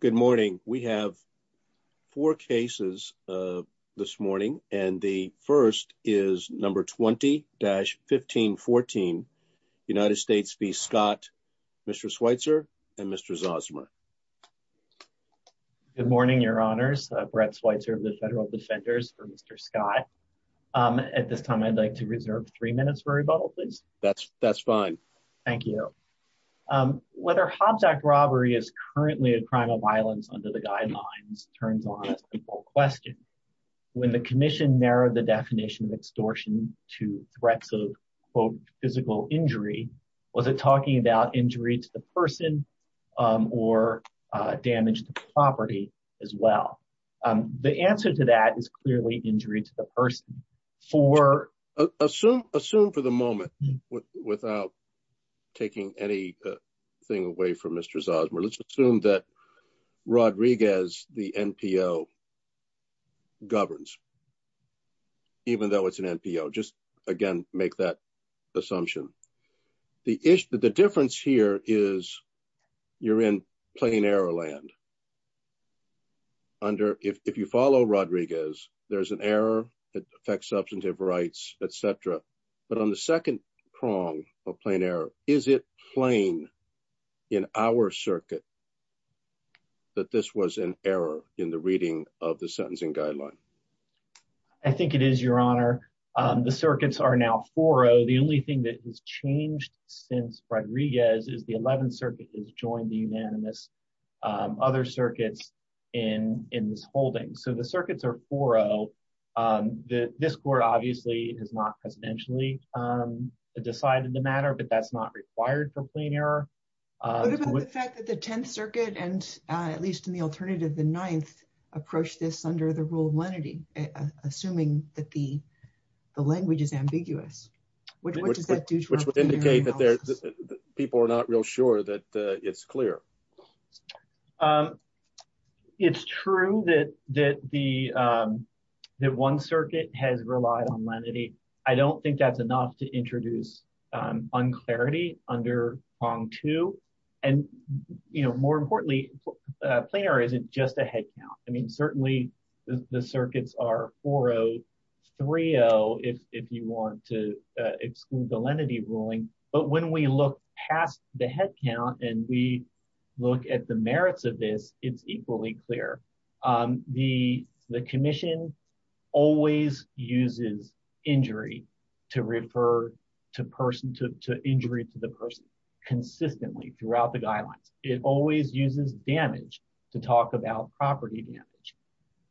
Good morning. We have four cases this morning, and the first is number 20-1514, United States v. Scott, Mr. Schweitzer, and Mr. Zosima. Good morning, your honors. Brett Schweitzer of the Federal Defenders for Mr. Scott. At this time, I'd like to reserve three minutes for rebuttal, please. Thank you. Whether Hobbs Act robbery is currently a crime of violence under the guidelines turns on a simple question. When the commission narrowed the definition of extortion to threats of, quote, physical injury, was it talking about injury to the person or damage to property as well? The answer to that is clearly injury to the person. Assume for the moment, without taking anything away from Mr. Zosima, let's assume that Rodriguez, the NPO, governs, even though it's an NPO. Just, again, make that assumption. The difference here is you're in plain error land. If you follow Rodriguez, there's an error that affects substantive rights, etc. But on the second prong of plain error, is it plain in our circuit that this was an error in the reading of the sentencing guideline? I think it is, your honor. The circuits are now 4-0. The only thing that has changed since Rodriguez is the 11th Circuit has joined the unanimous other circuits in this holding. So the circuits are 4-0. This court obviously has not presidentially decided the matter, but that's not required for plain error. What about the fact that the 10th Circuit, and at least in the alternative, the 9th, approached this under the rule of lenity, assuming that the language is ambiguous? Which would indicate that people are not real sure that it's clear. It's true that one circuit has relied on lenity. I don't think that's enough to introduce unclarity under prong two. More importantly, plain error isn't just a headcount. Certainly the circuits are 4-0, 3-0, if you want to exclude the lenity ruling. But when we look past the headcount and we look at the merits of this, it's equally clear. The Commission always uses injury to refer to the person consistently throughout the guidelines. It always uses damage to talk about property damage.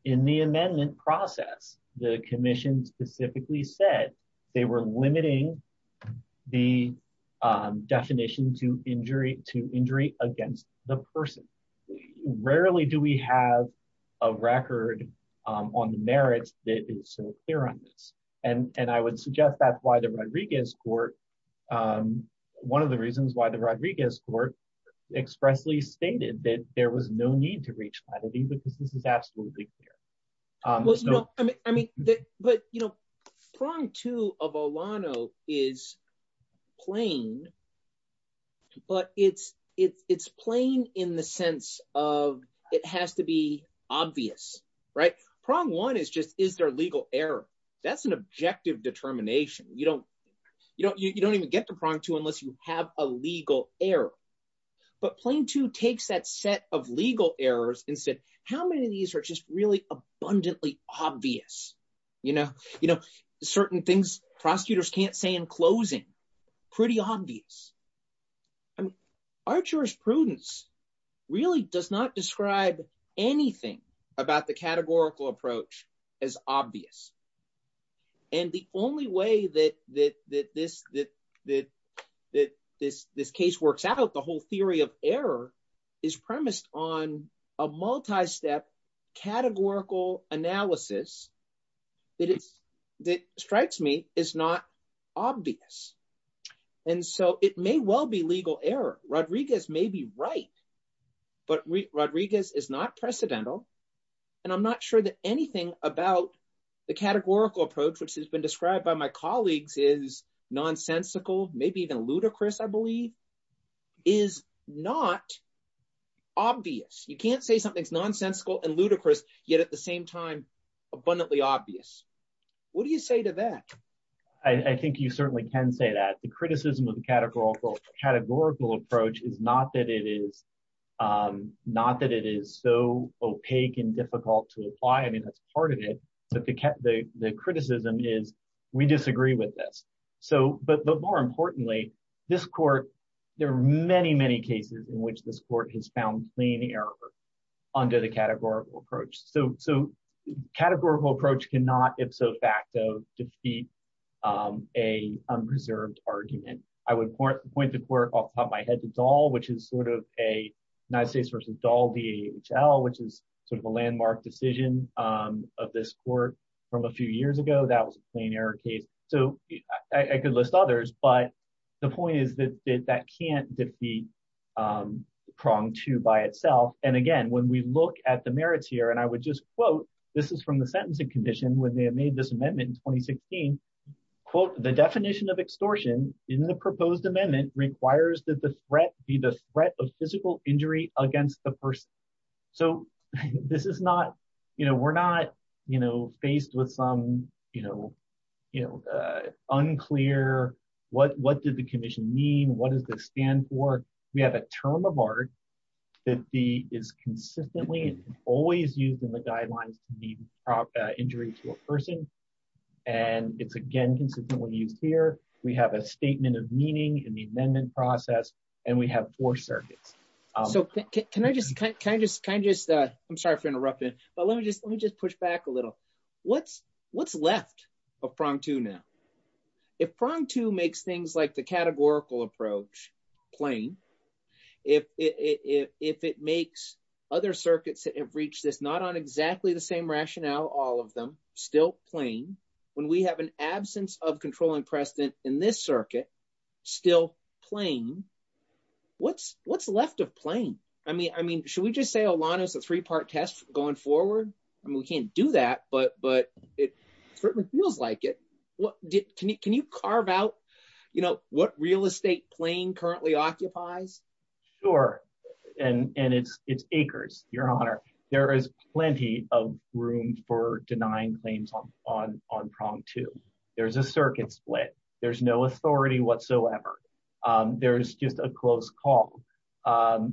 In the amendment process, the Commission specifically said they were limiting the definition to injury against the person. Rarely do we have a record on the merits that is so clear on this. And I would suggest that's why the Rodriguez court – one of the reasons why the Rodriguez court expressly stated that there was no need to reach lenity because this is absolutely clear. But prong two of Olano is plain, but it's plain in the sense of it has to be obvious. Prong one is just, is there legal error? That's an objective determination. You don't even get to prong two unless you have a legal error. But plain two takes that set of legal errors and said, how many of these are just really abundantly obvious? Certain things prosecutors can't say in closing, pretty obvious. Archer's prudence really does not describe anything about the categorical approach as obvious. And the only way that this case works out, the whole theory of error is premised on a multi-step categorical analysis that strikes me is not obvious. And so it may well be legal error. Rodriguez may be right. But Rodriguez is not precedental. And I'm not sure that anything about the categorical approach, which has been described by my colleagues is nonsensical, maybe even ludicrous, I believe, is not obvious. You can't say something's nonsensical and ludicrous, yet at the same time, abundantly obvious. What do you say to that? I think you certainly can say that. The criticism of the categorical approach is not that it is so opaque and difficult to apply. I mean, that's part of it. But the criticism is we disagree with this. But more importantly, this court, there are many, many cases in which this court has found plain error under the categorical approach. So categorical approach cannot ipso facto defeat a preserved argument. I would point the court off the top of my head to Dahl, which is sort of a United States versus Dahl DHL, which is sort of a landmark decision of this court from a few years ago. That was a plain error case. So I could list others. But the point is that that can't defeat prong two by itself. And again, when we look at the merits here, and I would just quote, this is from the sentencing condition when they made this amendment in 2016, quote, the definition of extortion in the proposed amendment requires that the threat be the threat of physical injury against the person. So this is not, you know, we're not, you know, faced with some, you know, you know, unclear. What did the commission mean? What does this stand for? We have a term of art that is consistently always used in the guidelines to be injury to a person. And it's again consistently used here, we have a statement of meaning in the amendment process, and we have four circuits. So, can I just, can I just, can I just, I'm sorry for interrupting, but let me just let me just push back a little. What's, what's left of prong two now. If prong two makes things like the categorical approach plain, if it makes other circuits that have reached this not on exactly the same rationale, all of them, still plain, when we have an absence of controlling precedent in this circuit, still plain, what's, what's left of plain? I mean, I mean, should we just say a lot is a three part test going forward. I mean we can't do that but but it certainly feels like it. What did, can you can you carve out, you know, what real estate plane currently occupies. Sure. And, and it's it's acres, Your Honor, there is plenty of room for denying claims on on on prompt to, there's a circuit split, there's no authority whatsoever. There's just a close call.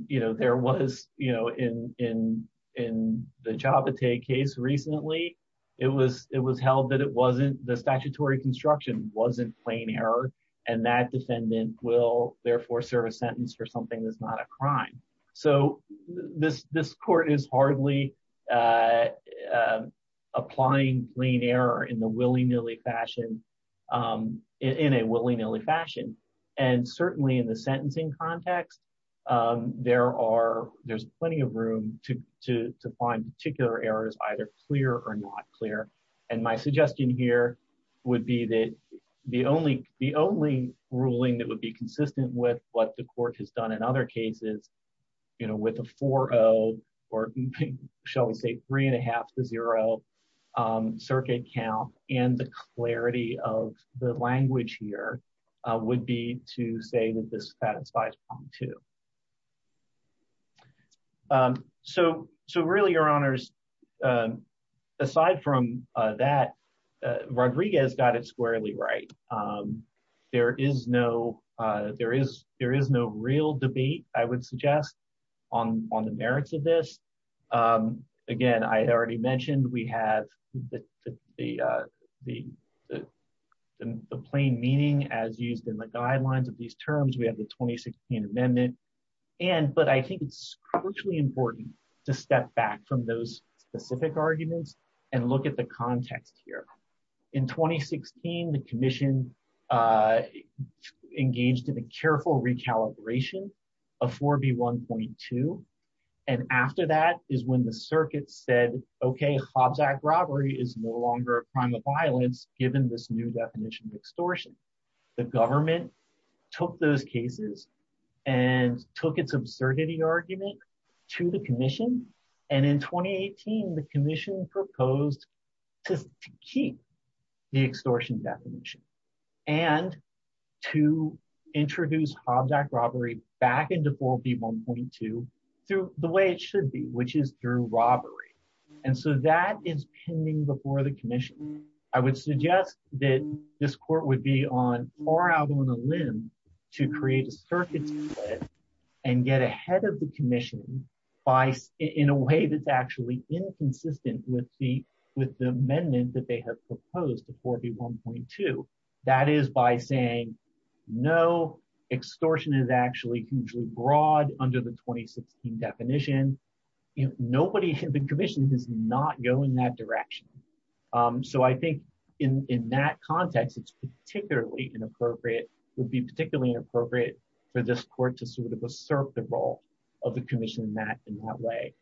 You know, there was, you know, in, in, in the job to take case recently, it was, it was held that it wasn't the statutory construction wasn't plain error, and that defendant will therefore serve a sentence for something that's not a crime. So, this, this court is hardly applying clean air in the willy nilly fashion in a willy nilly fashion, and certainly in the sentencing context. There are, there's plenty of room to to find particular errors either clear or not clear. And my suggestion here would be that the only the only ruling that would be consistent with what the court has done in other cases, you know, with a 40, or shall we say three and a half to zero circuit count, and the clarity of the language here would be to say that this satisfies two. So, so really Your Honors. Aside from that, Rodriguez got it squarely right. There is no, there is, there is no real debate, I would suggest on on the merits of this. Again, I already mentioned we have the, the, the, the plain meaning as used in the guidelines of these terms we have the 2016 amendment. And, but I think it's crucially important to step back from those specific arguments and look at the context here in 2016 the commission engaged in a careful recalibration of 4b 1.2. And after that is when the circuit said, Okay, Hobbs act robbery is no longer a crime of violence, given this new definition extortion, the government took those cases and took its absurdity argument to the commission. And in 2018 the commission proposed to keep the extortion definition, and to introduce object robbery back into 4b 1.2 through the way it should be, which is through robbery. And so that is pending before the commission. I would suggest that this court would be on far out on a limb to create a circuit and get ahead of the commission by in a way that's actually inconsistent with the, with the amendment that they have proposed to 4b 1.2. That is by saying no extortion is actually hugely broad under the 2016 definition. Nobody can be commissioned is not going that direction. So I think in that context it's particularly inappropriate would be particularly appropriate for this court to sort of assert the role of the commission that in that way.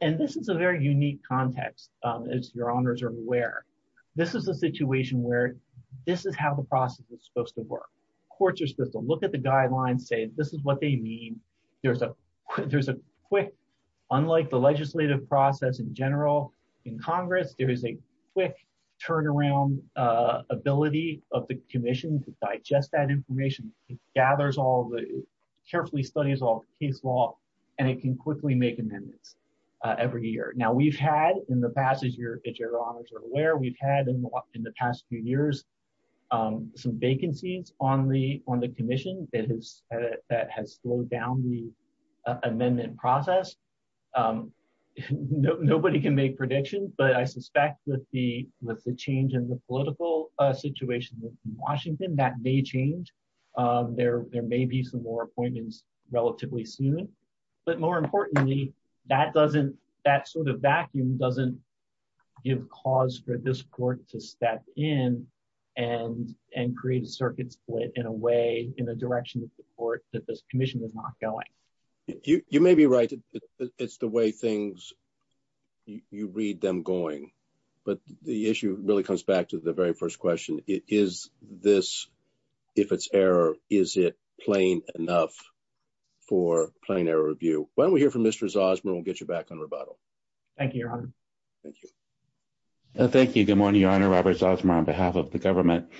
And this is a very unique context is your honors are aware. This is a situation where this is how the process is supposed to work. Courts are supposed to look at the guidelines say this is what they mean. There's a, there's a quick. Unlike the legislative process in general, in Congress, there is a quick turnaround ability of the commission to digest that information gathers all the carefully studies all case law, and it can quickly make amendments. Every year. Now we've had in the past as you're aware we've had in the past few years, some vacancies on the on the commission that has that has slowed down the amendment process. Nobody can make predictions but I suspect with the with the change in the political situation, Washington, that may change there, there may be some more appointments, relatively soon. But more importantly, that doesn't that sort of vacuum doesn't give cause for this court to step in and and create a circuit split in a way in the direction of the court that this commission is not going. You may be right. It's the way things you read them going, but the issue really comes back to the very first question is this. If it's error, is it plain enough for playing their review, when we hear from Mr Zosma we'll get you back on rebuttal. Thank you. Thank you. Thank you. Good morning, Your Honor Robert Zosma on behalf of the government.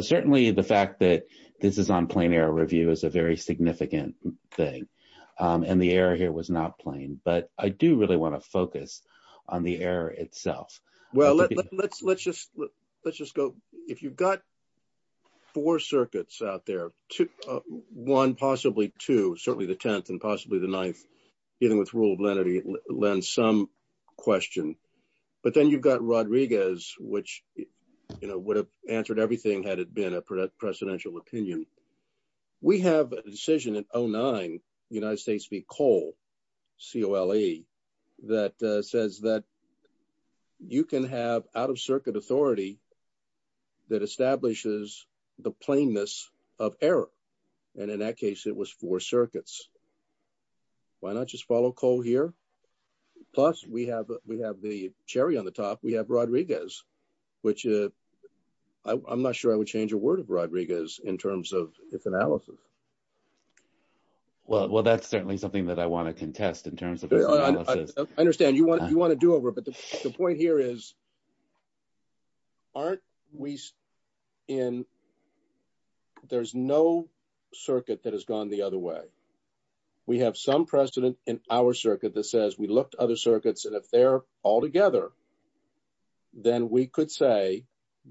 Certainly the fact that this is on plane air review is a very significant thing. And the air here was not playing, but I do really want to focus on the air itself. Well, let's let's let's just let's just go. If you've got four circuits out there to one possibly to certainly the 10th and possibly the ninth. Even with rule of lenity lens some question. But then you've got Rodriguez, which, you know, would have answered everything had it been a presidential opinion. We have a decision in oh nine, United States be coal co le that says that you can have out of circuit authority that establishes the plainness of error. And in that case it was four circuits. Why not just follow call here. Plus, we have, we have the cherry on the top we have Rodriguez, which I'm not sure I would change a word of Rodriguez in terms of its analysis. Well, that's certainly something that I want to contest in terms of. I understand you want you want to do over but the point here is, aren't we in. There's no circuit that has gone the other way. We have some precedent in our circuit that says we looked other circuits and if they're all together. Then we could say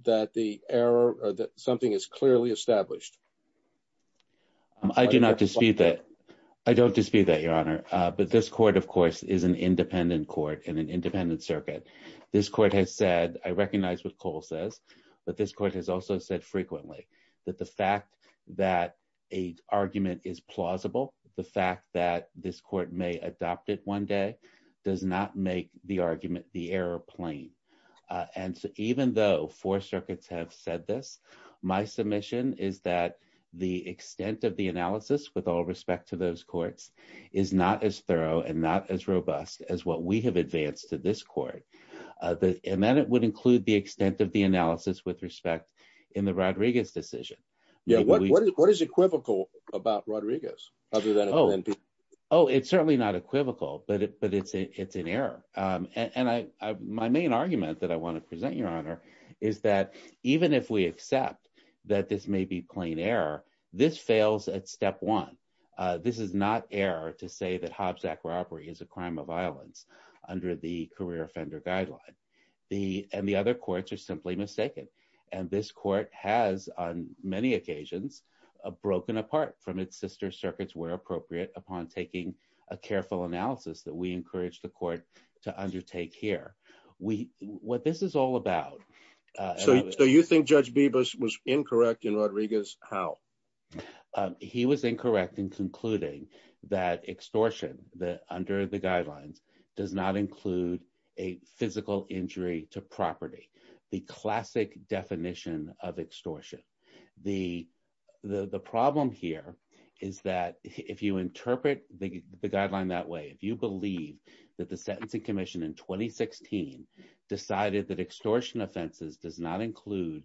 that the error that something is clearly established. I do not dispute that I don't dispute that your honor, but this court of course is an independent court and an independent circuit. This court has said, I recognize what Cole says, but this court has also said frequently that the fact that a argument is plausible, the fact that this court may adopt it one day, does not make the argument the airplane. And even though four circuits have said this, my submission is that the extent of the analysis with all respect to those courts is not as thorough and not as robust as what we have advanced to this court. The, and then it would include the extent of the analysis with respect in the Rodriguez decision. Yeah, what is equivocal about Rodriguez. Oh, it's certainly not equivocal, but it but it's it's an error. And I, my main argument that I want to present your honor, is that even if we accept that this may be plain error. This fails at step one. This is not air to say that Hobbs act robbery is a crime of violence under the career offender guideline. The, and the other courts are simply mistaken. And this court has on many occasions, a broken apart from its sister circuits where appropriate upon taking a careful analysis that we encourage the court to undertake here. We, what this is all about. So you think judge Bebas was incorrect in Rodriguez, how he was incorrect in concluding that extortion that under the guidelines does not include a physical injury to property, the classic definition of extortion. The, the problem here is that if you interpret the guideline that way if you believe that the sentencing commission in 2016 decided that extortion offenses does not include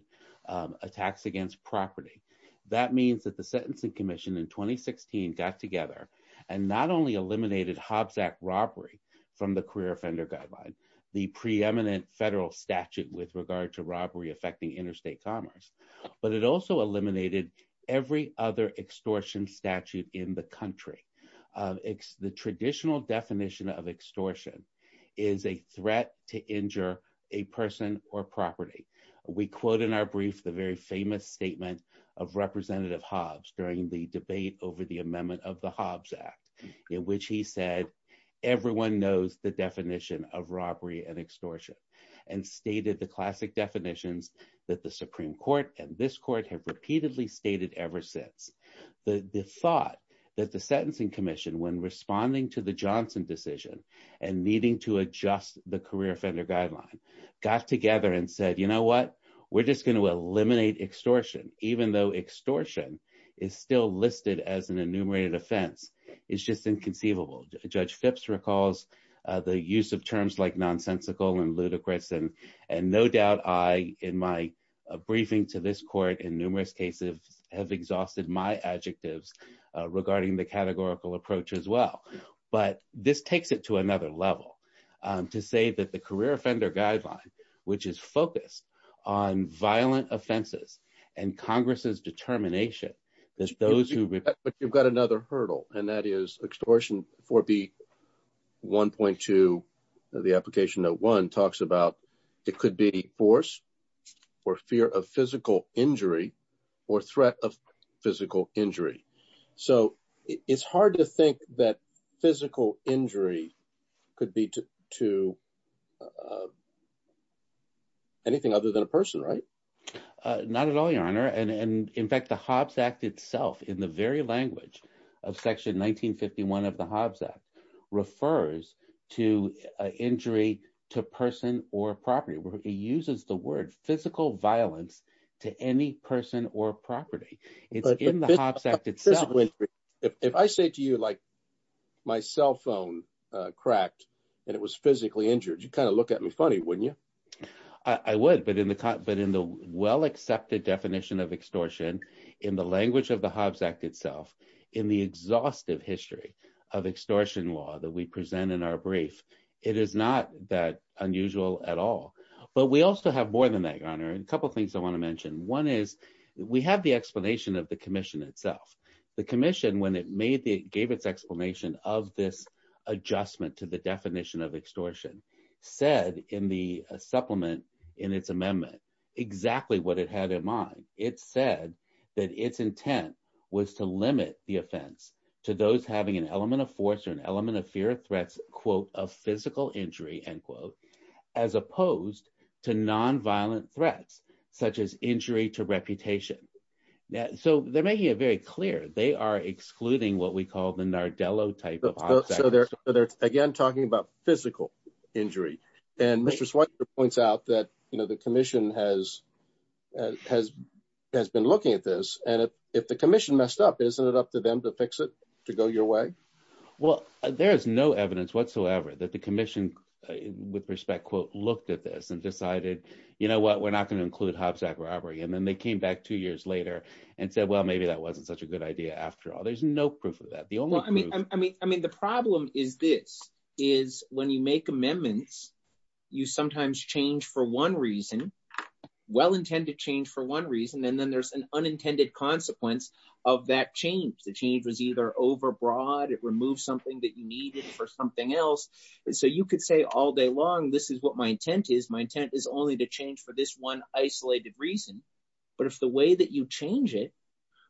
attacks against property. That means that the sentencing commission in 2016 got together and not only eliminated Hobbs act robbery from the career offender guideline, the preeminent federal statute with regard to robbery affecting interstate commerce, but it also eliminated every other extortion statute in the country. The traditional definition of extortion is a threat to injure a person or property. We quote in our brief the very famous statement of representative Hobbs during the debate over the amendment of the Hobbs Act, in which he said, everyone knows the definition of robbery and extortion, and stated the classic definitions that the Supreme Court and this court have repeatedly stated ever since the thought that the sentencing commission when responding to the Johnson decision, and needing to adjust the career offender guideline got together and said, you know what, we're just going to eliminate extortion, even though extortion is still listed as an enumerated offense is just inconceivable, Judge Phipps recalls the use of terms like nonsensical and ludicrous And no doubt I, in my briefing to this court in numerous cases have exhausted my adjectives regarding the categorical approach as well. But this takes it to another level to say that the career offender guideline, which is focused on violent offenses and Congress's determination. But you've got another hurdle, and that is extortion for the 1.2 of the application that one talks about, it could be force or fear of physical injury or threat of physical injury. So, it's hard to think that physical injury could be to anything other than a person right. Not at all your honor and in fact the Hobbs Act itself in the very language of section 1951 of the Hobbs Act refers to injury to person or property where he uses the word physical violence to any person or property. It's in the Hobbs Act itself. If I say to you like my cell phone cracked, and it was physically injured you kind of look at me funny wouldn't you. I would but in the car, but in the well accepted definition of extortion in the language of the Hobbs Act itself in the exhaustive history of extortion law that we present in our brief, it is not that unusual at all. But we also have more than that your honor and a couple things I want to mention one is, we have the explanation of the commission itself, the commission when it made the gave its explanation of this adjustment to the definition of extortion said in the supplement in its amendment, exactly what it had in mind, it said that its intent was to limit the offense to those having an element of force or an element of fear threats, quote, a physical injury and quote, as opposed to non violent threats, such as injury to reputation. So they're making it very clear they are excluding what we call the Nardello type of. So they're, they're, again, talking about physical injury, and Mr Switzer points out that, you know, the commission has, has, has been looking at this, and if the commission messed up isn't it up to them to fix it to go your way. Well, there's no evidence whatsoever that the commission, with respect quote looked at this and decided, you know what we're not going to include Hobbs Act robbery and then they came back two years later, and said well maybe that wasn't such a good idea after all there's no proof of I mean, I mean the problem is this is when you make amendments. You sometimes change for one reason. Well intended change for one reason and then there's an unintended consequence of that change the change was either overbroad it removes something that you needed for something else. So you could say all day long this is what my intent is my intent is only to change for this one isolated reason. But if the way that you change it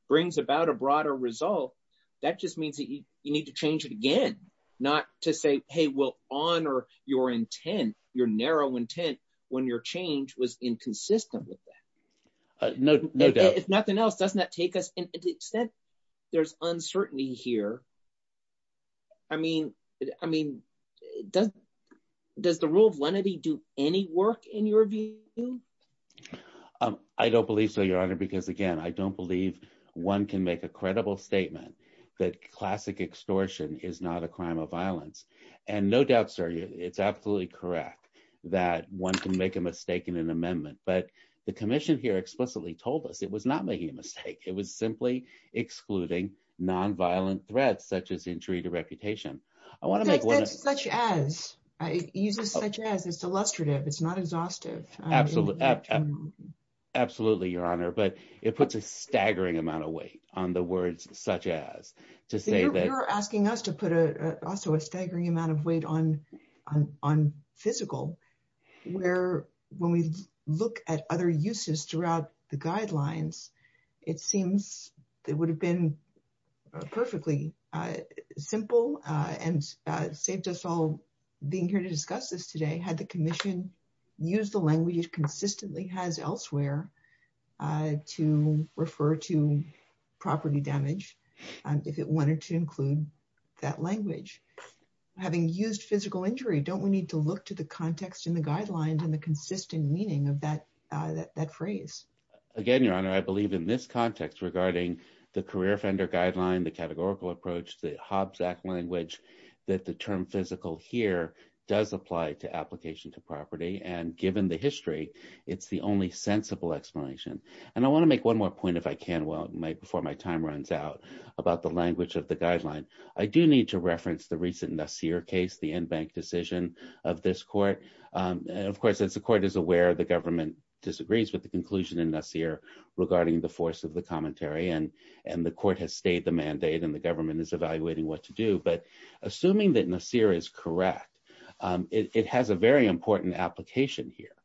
brings about a broader result. That just means that you need to change it again, not to say, hey, well, on or your intent, your narrow intent, when your change was inconsistent with that. If nothing else, doesn't that take us instead. There's uncertainty here. I mean, I mean, does, does the rule of lenity do any work in your view. I don't believe so, Your Honor, because again I don't believe one can make a credible statement that classic extortion is not a crime of violence, and no doubt sir it's absolutely correct that one can make a mistake in an amendment, but the commission here explicitly told us it was not making a mistake, it was simply excluding non violent threats such as injury to reputation. I want to make one such as it uses such as it's illustrative it's not exhaustive. Absolutely. Absolutely, Your Honor, but it puts a staggering amount of weight on the words, such as to say that you're asking us to put a also a staggering amount of weight on on on physical, where, when we look at other uses throughout the guidelines. It seems that would have been perfectly simple and saved us all being here to discuss this today had the commission use the language consistently has elsewhere to refer to property damage. If it wanted to include that language. Having used physical injury don't we need to look to the context in the guidelines and the consistent meaning of that that that phrase. Again, Your Honor, I believe in this context regarding the career fender guideline the categorical approach the Hobbes act language that the about the language of the guideline. I do need to reference the recent Nassir case the end bank decision of this court. Of course it's the court is aware of the government disagrees with the conclusion in this year, regarding the force of the commentary and, and the court has stayed the mandate and the government is evaluating what to do but assuming that Nassir is correct. It has a very important application here,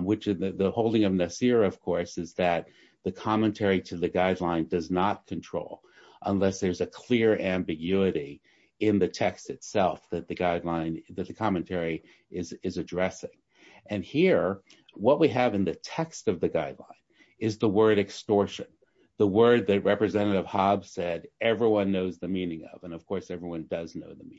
which is the holding of Nassir of course is that the commentary to the guideline does not control, unless there's a clear ambiguity in the text itself that the guideline that the commentary is addressing. And here, what we have in the text of the guideline is the word extortion, the word that representative Hobbes said everyone knows the meaning of and of course everyone does know the meaning.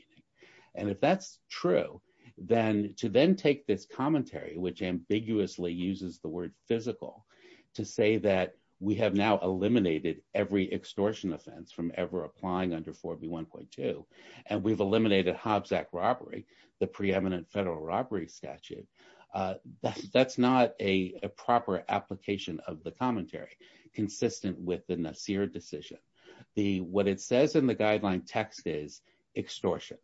And if that's true, then to then take this commentary which ambiguously uses the word physical to say that we have now eliminated every extortion offense from ever applying under 4b 1.2, and we've eliminated Hobbes act robbery, the preeminent federal robbery statute. That's not a proper application of the commentary consistent with the Nassir decision, the what it says in the guideline text is extortion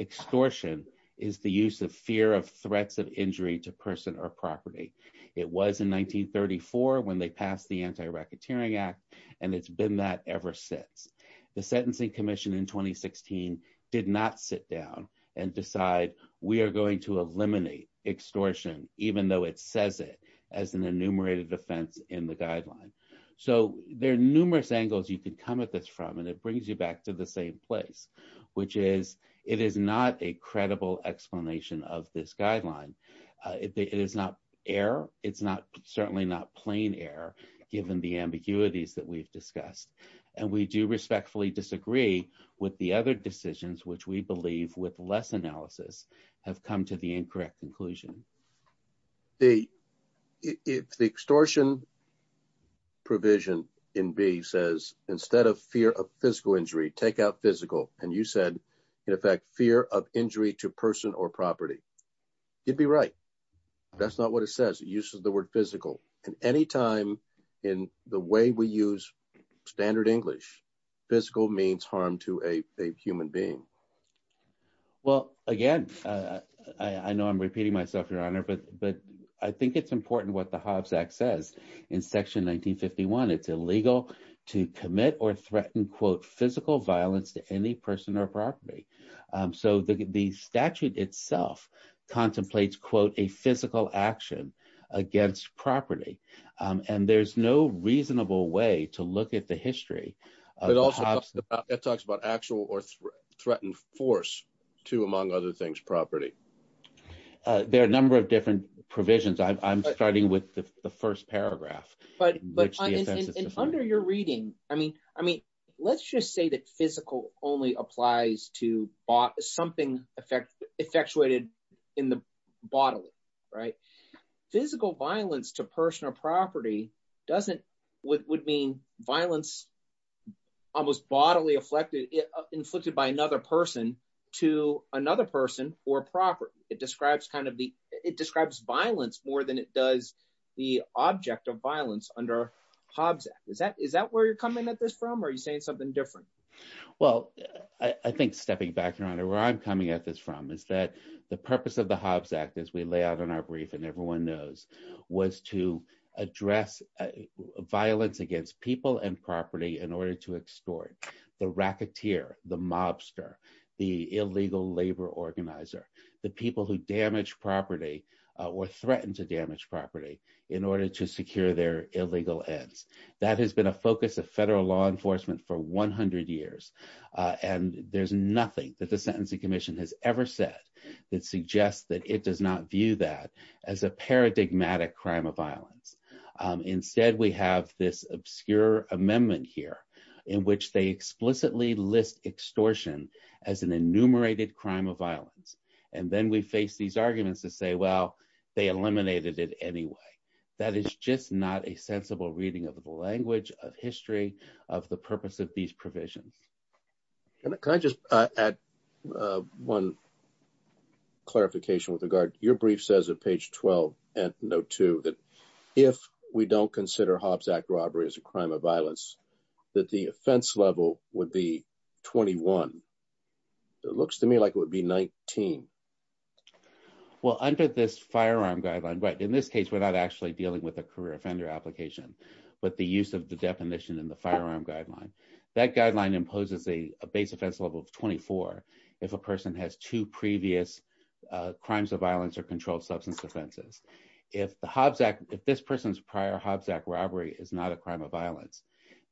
extortion is the use of fear of threats of injury to person or property. It was in 1934 when they passed the anti racketeering act, and it's been that ever since the Sentencing Commission in 2016 did not sit down and decide, we are going to eliminate extortion, even though it says it as an enumerated defense in the guideline. So, there are numerous angles you can come at this from and it brings you back to the same place, which is, it is not a credible explanation of this guideline. It is not air, it's not certainly not plain air, given the ambiguities that we've discussed, and we do respectfully disagree with the other decisions which we believe with less analysis have come to the incorrect conclusion. The extortion provision in B says, instead of fear of physical injury take out physical, and you said, in effect, fear of injury to person or property. You'd be right. That's not what it says it uses the word physical, and anytime in the way we use standard English physical means harm to a human being. Well, again, I know I'm repeating myself, Your Honor, but, but I think it's important what the Hobbs access in section 1951 it's illegal to commit or threaten quote physical violence to any person or property. So the statute itself contemplates quote a physical action against property, and there's no reasonable way to look at the history. It also talks about actual or threatened force to among other things property. There are a number of different provisions I'm starting with the first paragraph, but under your reading, I mean, I mean, let's just say that physical only applies to bought something effect effectuated in the bottle. Right. Physical violence to personal property doesn't would mean violence, almost bodily afflicted it inflicted by another person to another person or property, it describes kind of the, it describes violence more than it does the object of violence under Hobbs. Is that is that where you're coming at this from are you saying something different. Well, I think stepping back around and where I'm coming at this from is that the purpose of the Hobbs Act as we lay out in our brief and everyone knows, was to address violence against people and property in order to extort the racketeer, the mobster, the And there's nothing that the Sentencing Commission has ever said that suggests that it does not view that as a paradigmatic crime of violence. Instead, we have this obscure amendment here in which they explicitly list extortion as an enumerated crime of violence. And then we face these arguments to say well they eliminated it anyway. That is just not a sensible reading of the language of history of the purpose of these provisions. Can I just add one clarification with regard to your brief says that page 12 and note to that. If we don't consider Hobbs Act robbery as a crime of violence that the offense level would be 21. It looks to me like it would be 19. Well, under this firearm guideline. But in this case, we're not actually dealing with a career offender application, but the use of the definition in the firearm guideline. That guideline imposes a base offense level of 24 if a person has two previous crimes of violence or controlled substance offenses. If the Hobbs Act. If this person's prior Hobbs Act robbery is not a crime of violence,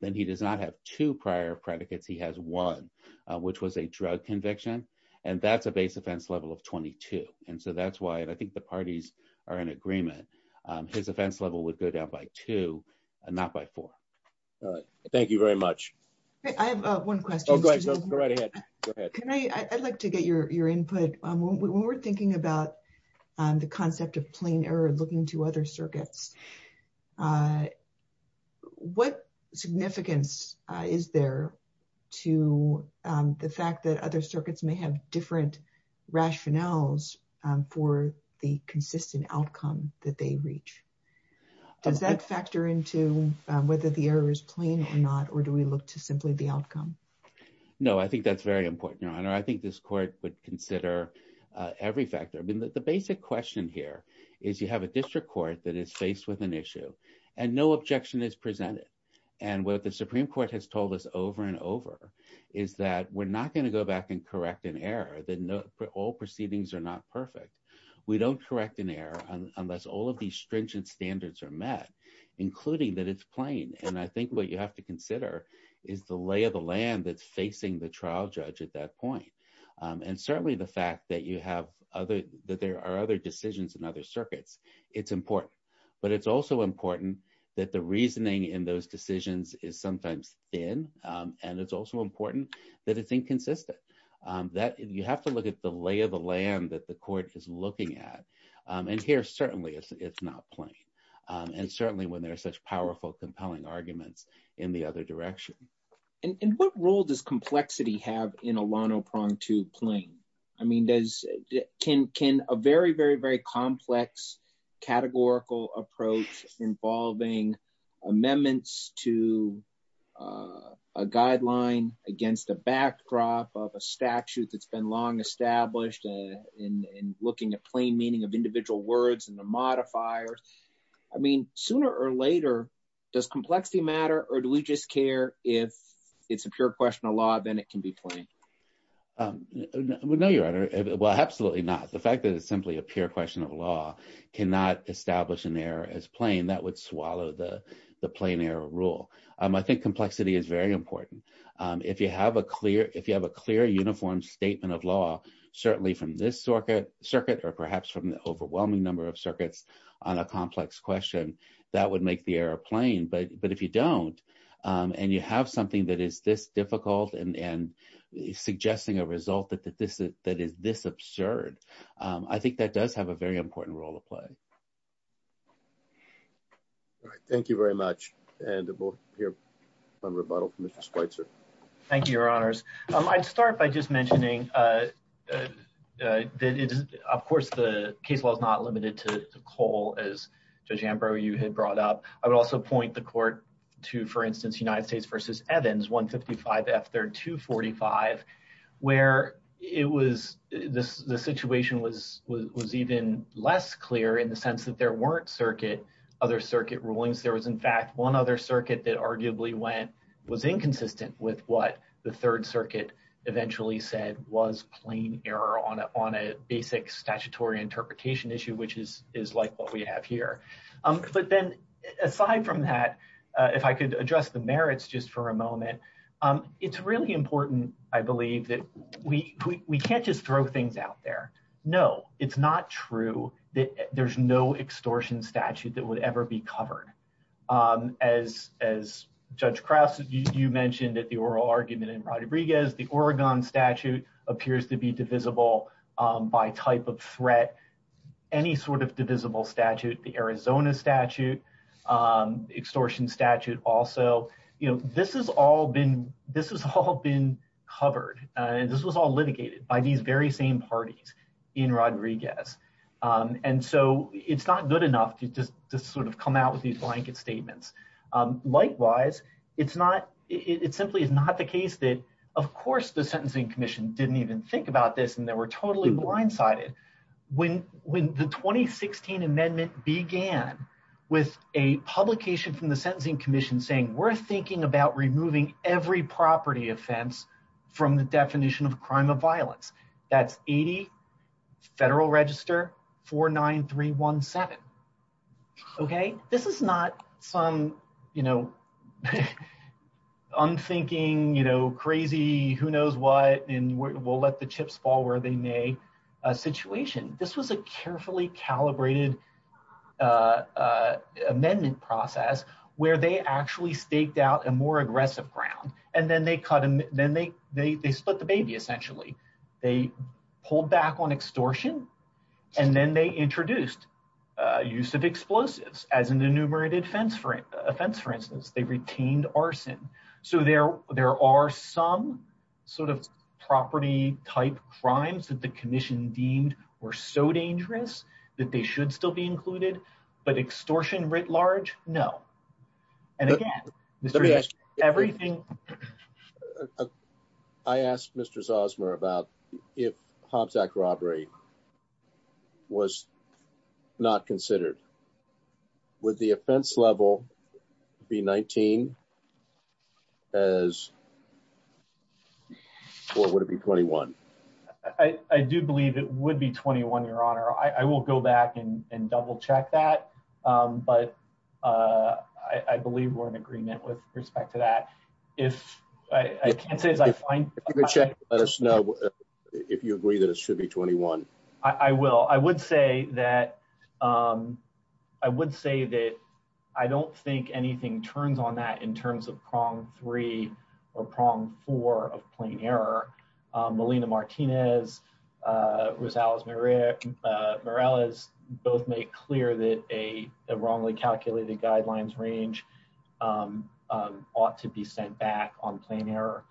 then he does not have two prior predicates. He has one, which was a drug conviction. And that's a base offense level of 22. And so that's why I think the parties are in agreement, his offense level would go down by two and not by four. Thank you very much. I have one question. Go ahead. Can I I'd like to get your input on when we're thinking about the concept of plain error looking to other circuits. What significance is there to the fact that other circuits may have different rationales for the consistent outcome that they reach. Does that factor into whether the error is plain or not, or do we look to simply the outcome? No, I think that's very important. I think this court would consider every factor. I mean, the basic question here is you have a district court that is faced with an issue and no objection is presented. And what the Supreme Court has told us over and over is that we're not going to go back and correct an error. All proceedings are not perfect. We don't correct an error unless all of these stringent standards are met, including that it's plain. And I think what you have to consider is the lay of the land that's facing the trial judge at that point. And certainly the fact that you have other that there are other decisions in other circuits, it's important. But it's also important that the reasoning in those decisions is sometimes thin. And it's also important that it's inconsistent. That you have to look at the lay of the land that the court is looking at. And here, certainly it's not plain. And certainly when there are such powerful, compelling arguments in the other direction. And what role does complexity have in a lono prong to plane? I mean, does can can a very, very, very complex categorical approach involving amendments to a guideline against a backdrop of a statute that's been long established in looking at plain meaning of individual words and the modifiers. I mean, sooner or later, does complexity matter or do we just care if it's a pure question of law, then it can be playing. No, Your Honor. Well, absolutely not. The fact that it's simply a pure question of law cannot establish an error as plain that would swallow the plain error rule. I think complexity is very important. If you have a clear, if you have a clear, uniform statement of law, certainly from this circuit circuit, or perhaps from the overwhelming number of circuits on a complex question, that would make the airplane. But, but if you don't, and you have something that is this difficult and suggesting a result that that this that is this absurd. I think that does have a very important role to play. Thank you very much, and we'll hear from rebuttal from Mr Spicer. Thank you, Your Honors. I'd start by just mentioning. That is, of course, the case was not limited to coal as you had brought up. I would also point the court to, for instance, United States versus Evans 155 after 245, where it was this the situation was was even less clear in the sense that there weren't circuit other circuit rulings. There was in fact one other circuit that arguably went was inconsistent with what the Third Circuit eventually said was plain error on it on a basic statutory interpretation issue which is is like what we have here. But then, aside from that, if I could address the merits just for a moment. It's really important. I believe that we can't just throw things out there. No, it's not true that there's no extortion statute that would ever be covered. As, as Judge Krause, you mentioned that the oral argument in Rodriguez the Oregon statute appears to be divisible by type of threat. Any sort of divisible statute the Arizona statute extortion statute. Also, you know, this has all been this has all been covered, and this was all litigated by these very same parties in Rodriguez. And so it's not good enough to just to sort of come out with these blanket statements. Likewise, it's not, it simply is not the case that, of course, the Sentencing Commission didn't even think about this and they were totally blindsided. When, when the 2016 amendment began with a publication from the Sentencing Commission saying we're thinking about removing every property offense from the definition of crime of violence. That's 80 Federal Register 49317. Okay, this is not some, you know, I'm thinking, you know, crazy, who knows what, and we'll let the chips fall where they may situation. This was a carefully calibrated amendment process where they actually staked out a more aggressive ground, and then they cut them, then they, they split the baby essentially they pulled back on extortion. And then they introduced use of explosives, as an enumerated fence for offense for instance they retained arson. So there, there are some sort of property type crimes that the commission deemed were so dangerous that they should still be included, but extortion writ large. No. And again, everything. I asked Mr Zosmer about if Hobbs act robbery was not considered with the offense level, be 19. As what would it be 21. I do believe it would be 21, Your Honor, I will go back and double check that. But I believe we're in agreement with respect to that. If I can't say as I find the check, let us know if you agree that it should be 21, I will I would say that I would say that I don't think anything turns on that in terms of prong three or prong four of plain error Molina Martinez was Alice Maria Morales, both make clear that a wrongly calculated guidelines range ought to be sent back on plain error.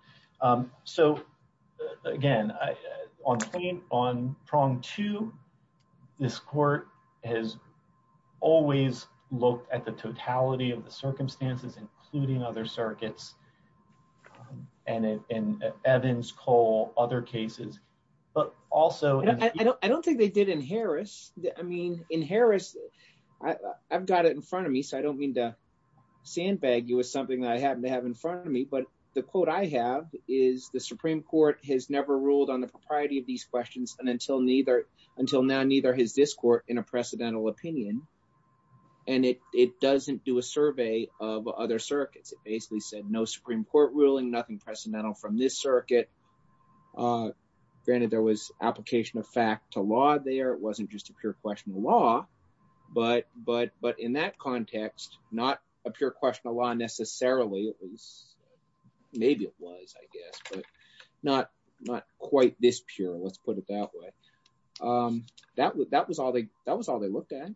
So, again, on on prong to this court has always looked at the totality of the circumstances including other circuits. And in Evans Cole other cases, but also I don't think they did in Harris, I mean, in Harris. I've got it in front of me so I don't mean to sandbag you with something I happen to have in front of me but the quote I have is the Supreme Court has never ruled on the propriety of these questions and until neither until now neither his discord in a precedental opinion. And it, it doesn't do a survey of other circuits it basically said no Supreme Court ruling nothing precedental from this circuit. Granted, there was application of fact to law there it wasn't just a pure question of law, but, but, but in that context, not a pure question a lot necessarily at least. Maybe it was, I guess, but not, not quite this pure let's put it that way. That was that was all they that was all they looked at.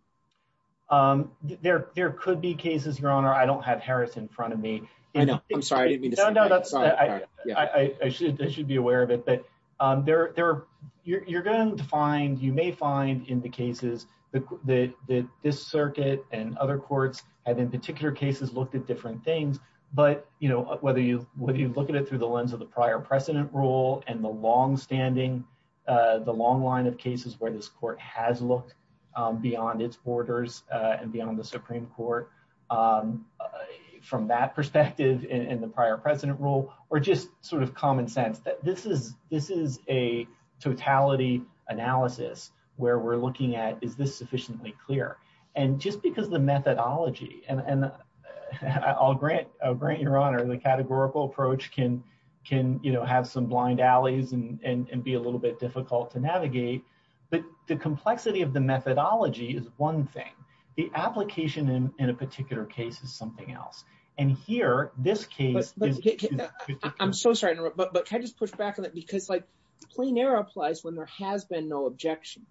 There, there could be cases your honor I don't have Harris in front of me. I'm sorry. I should be aware of it but they're, they're, you're going to find you may find in the cases that this circuit, and other courts have in particular cases looked at different things, but, you know, whether you, whether you look at it through the lens of the prior precedent rule and the long standing. The long line of cases where this court has looked beyond its borders and beyond the Supreme Court. From that perspective in the prior president role, or just sort of common sense that this is, this is a totality analysis, where we're looking at is this sufficiently clear, and just because the methodology and I'll grant grant your honor the categorical approach can can you know have some blind alleys and be a little bit difficult to navigate, but the complexity of the methodology is one thing, the application in a particular case is something else. And here, this case. I'm so sorry, but but can I just push back on it because like plain air applies when there has been no objection.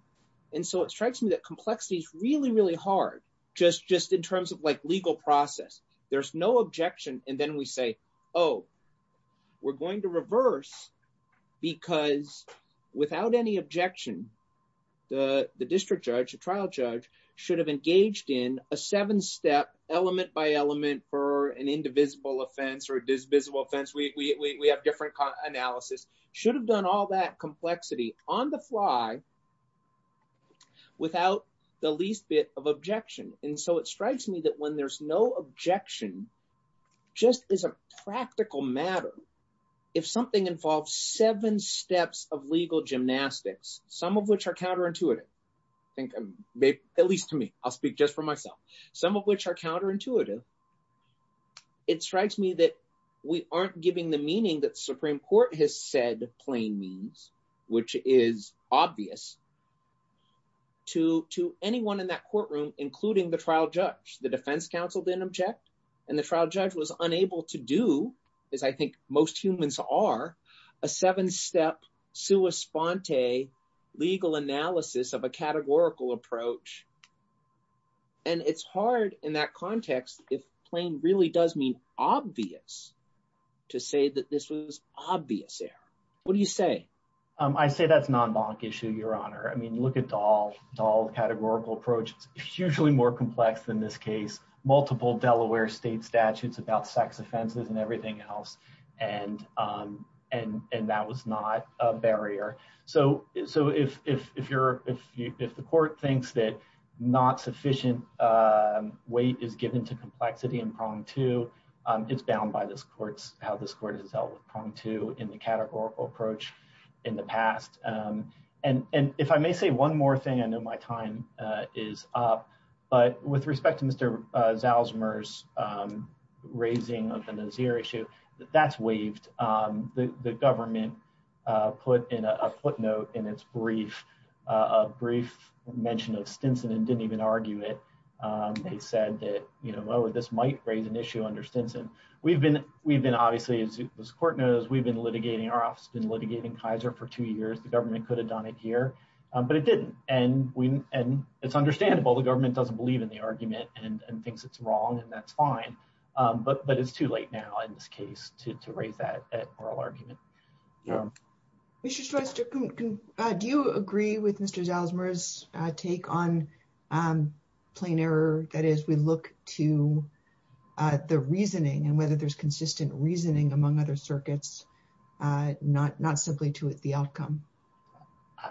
And so it strikes me that complexity is really really hard, just just in terms of like legal process, there's no objection, and then we say, Oh, we're going to reverse. Because, without any objection. The district judge trial judge should have engaged in a seven step element by element for an indivisible offense or this visible fence we have different analysis should have done all that complexity on the fly. Without the least bit of objection, and so it strikes me that when there's no objection, just as a practical matter. If something involves seven steps of legal gymnastics, some of which are counterintuitive. Maybe, at least to me, I'll speak just for myself, some of which are counterintuitive. It strikes me that we aren't giving the meaning that Supreme Court has said, plain means, which is obvious to to anyone in that courtroom, including the trial judge the defense counsel didn't object, and the trial judge was unable to do is I think most humans are a seven step. So a sponte legal analysis of a categorical approach. And it's hard in that context, if plain really does mean obvious to say that this was obvious there. What do you say, I say that's non bonk issue Your Honor I mean look at all, all the categorical approaches, usually more complex than this case, multiple Delaware state statutes about sex offenses and everything else. And, and, and that was not a barrier. So, so if if you're, if you if the court thinks that not sufficient weight is given to complexity and prong to is bound by this courts, how this court has dealt with raising an issue that that's waived the government put in a footnote in its brief, a brief mention of Stinson and didn't even argue it. They said that, you know, this might raise an issue under Stinson, we've been, we've been obviously as the court knows we've been litigating our office been litigating Kaiser for two years the government could have done it here, but it didn't, and we, and it's fine. But, but it's too late now in this case to raise that argument. Yeah. We should try to do you agree with Mr Zellzmer is take on plain error, that is we look to the reasoning and whether there's consistent reasoning among other circuits, not not simply to it the outcome.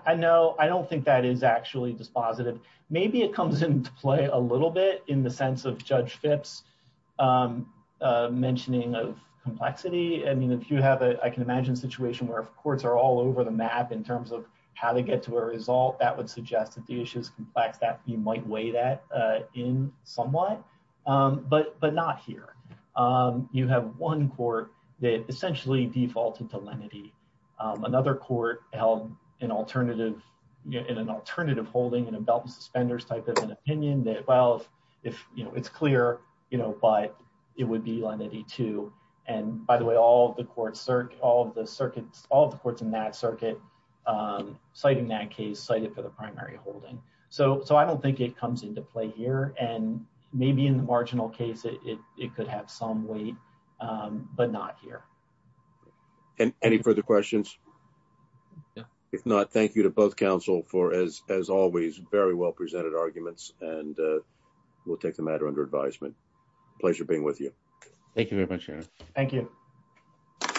I know I don't think that is actually dispositive, maybe it comes into play a little bit in the sense of judge fits mentioning of complexity I mean if you have a I can imagine situation where if courts are all over the map in terms of how to get to a result that would suggest that the issues complex that you might weigh that in somewhat. But, but not here. You have one court that essentially defaulted to lenity. Another court held an alternative in an alternative holding and a belt and suspenders type of an opinion that well if you know it's clear, you know, but it would be like 82. And by the way, all the courts are all the circuits, all the courts in that circuit, citing that case cited for the primary holding. So, so I don't think it comes into play here and maybe in the marginal case it could have some way. But not here. And any further questions. If not, thank you to both counsel for as, as always, very well presented arguments, and we'll take the matter under advisement. Pleasure being with you. Thank you very much. Thank you.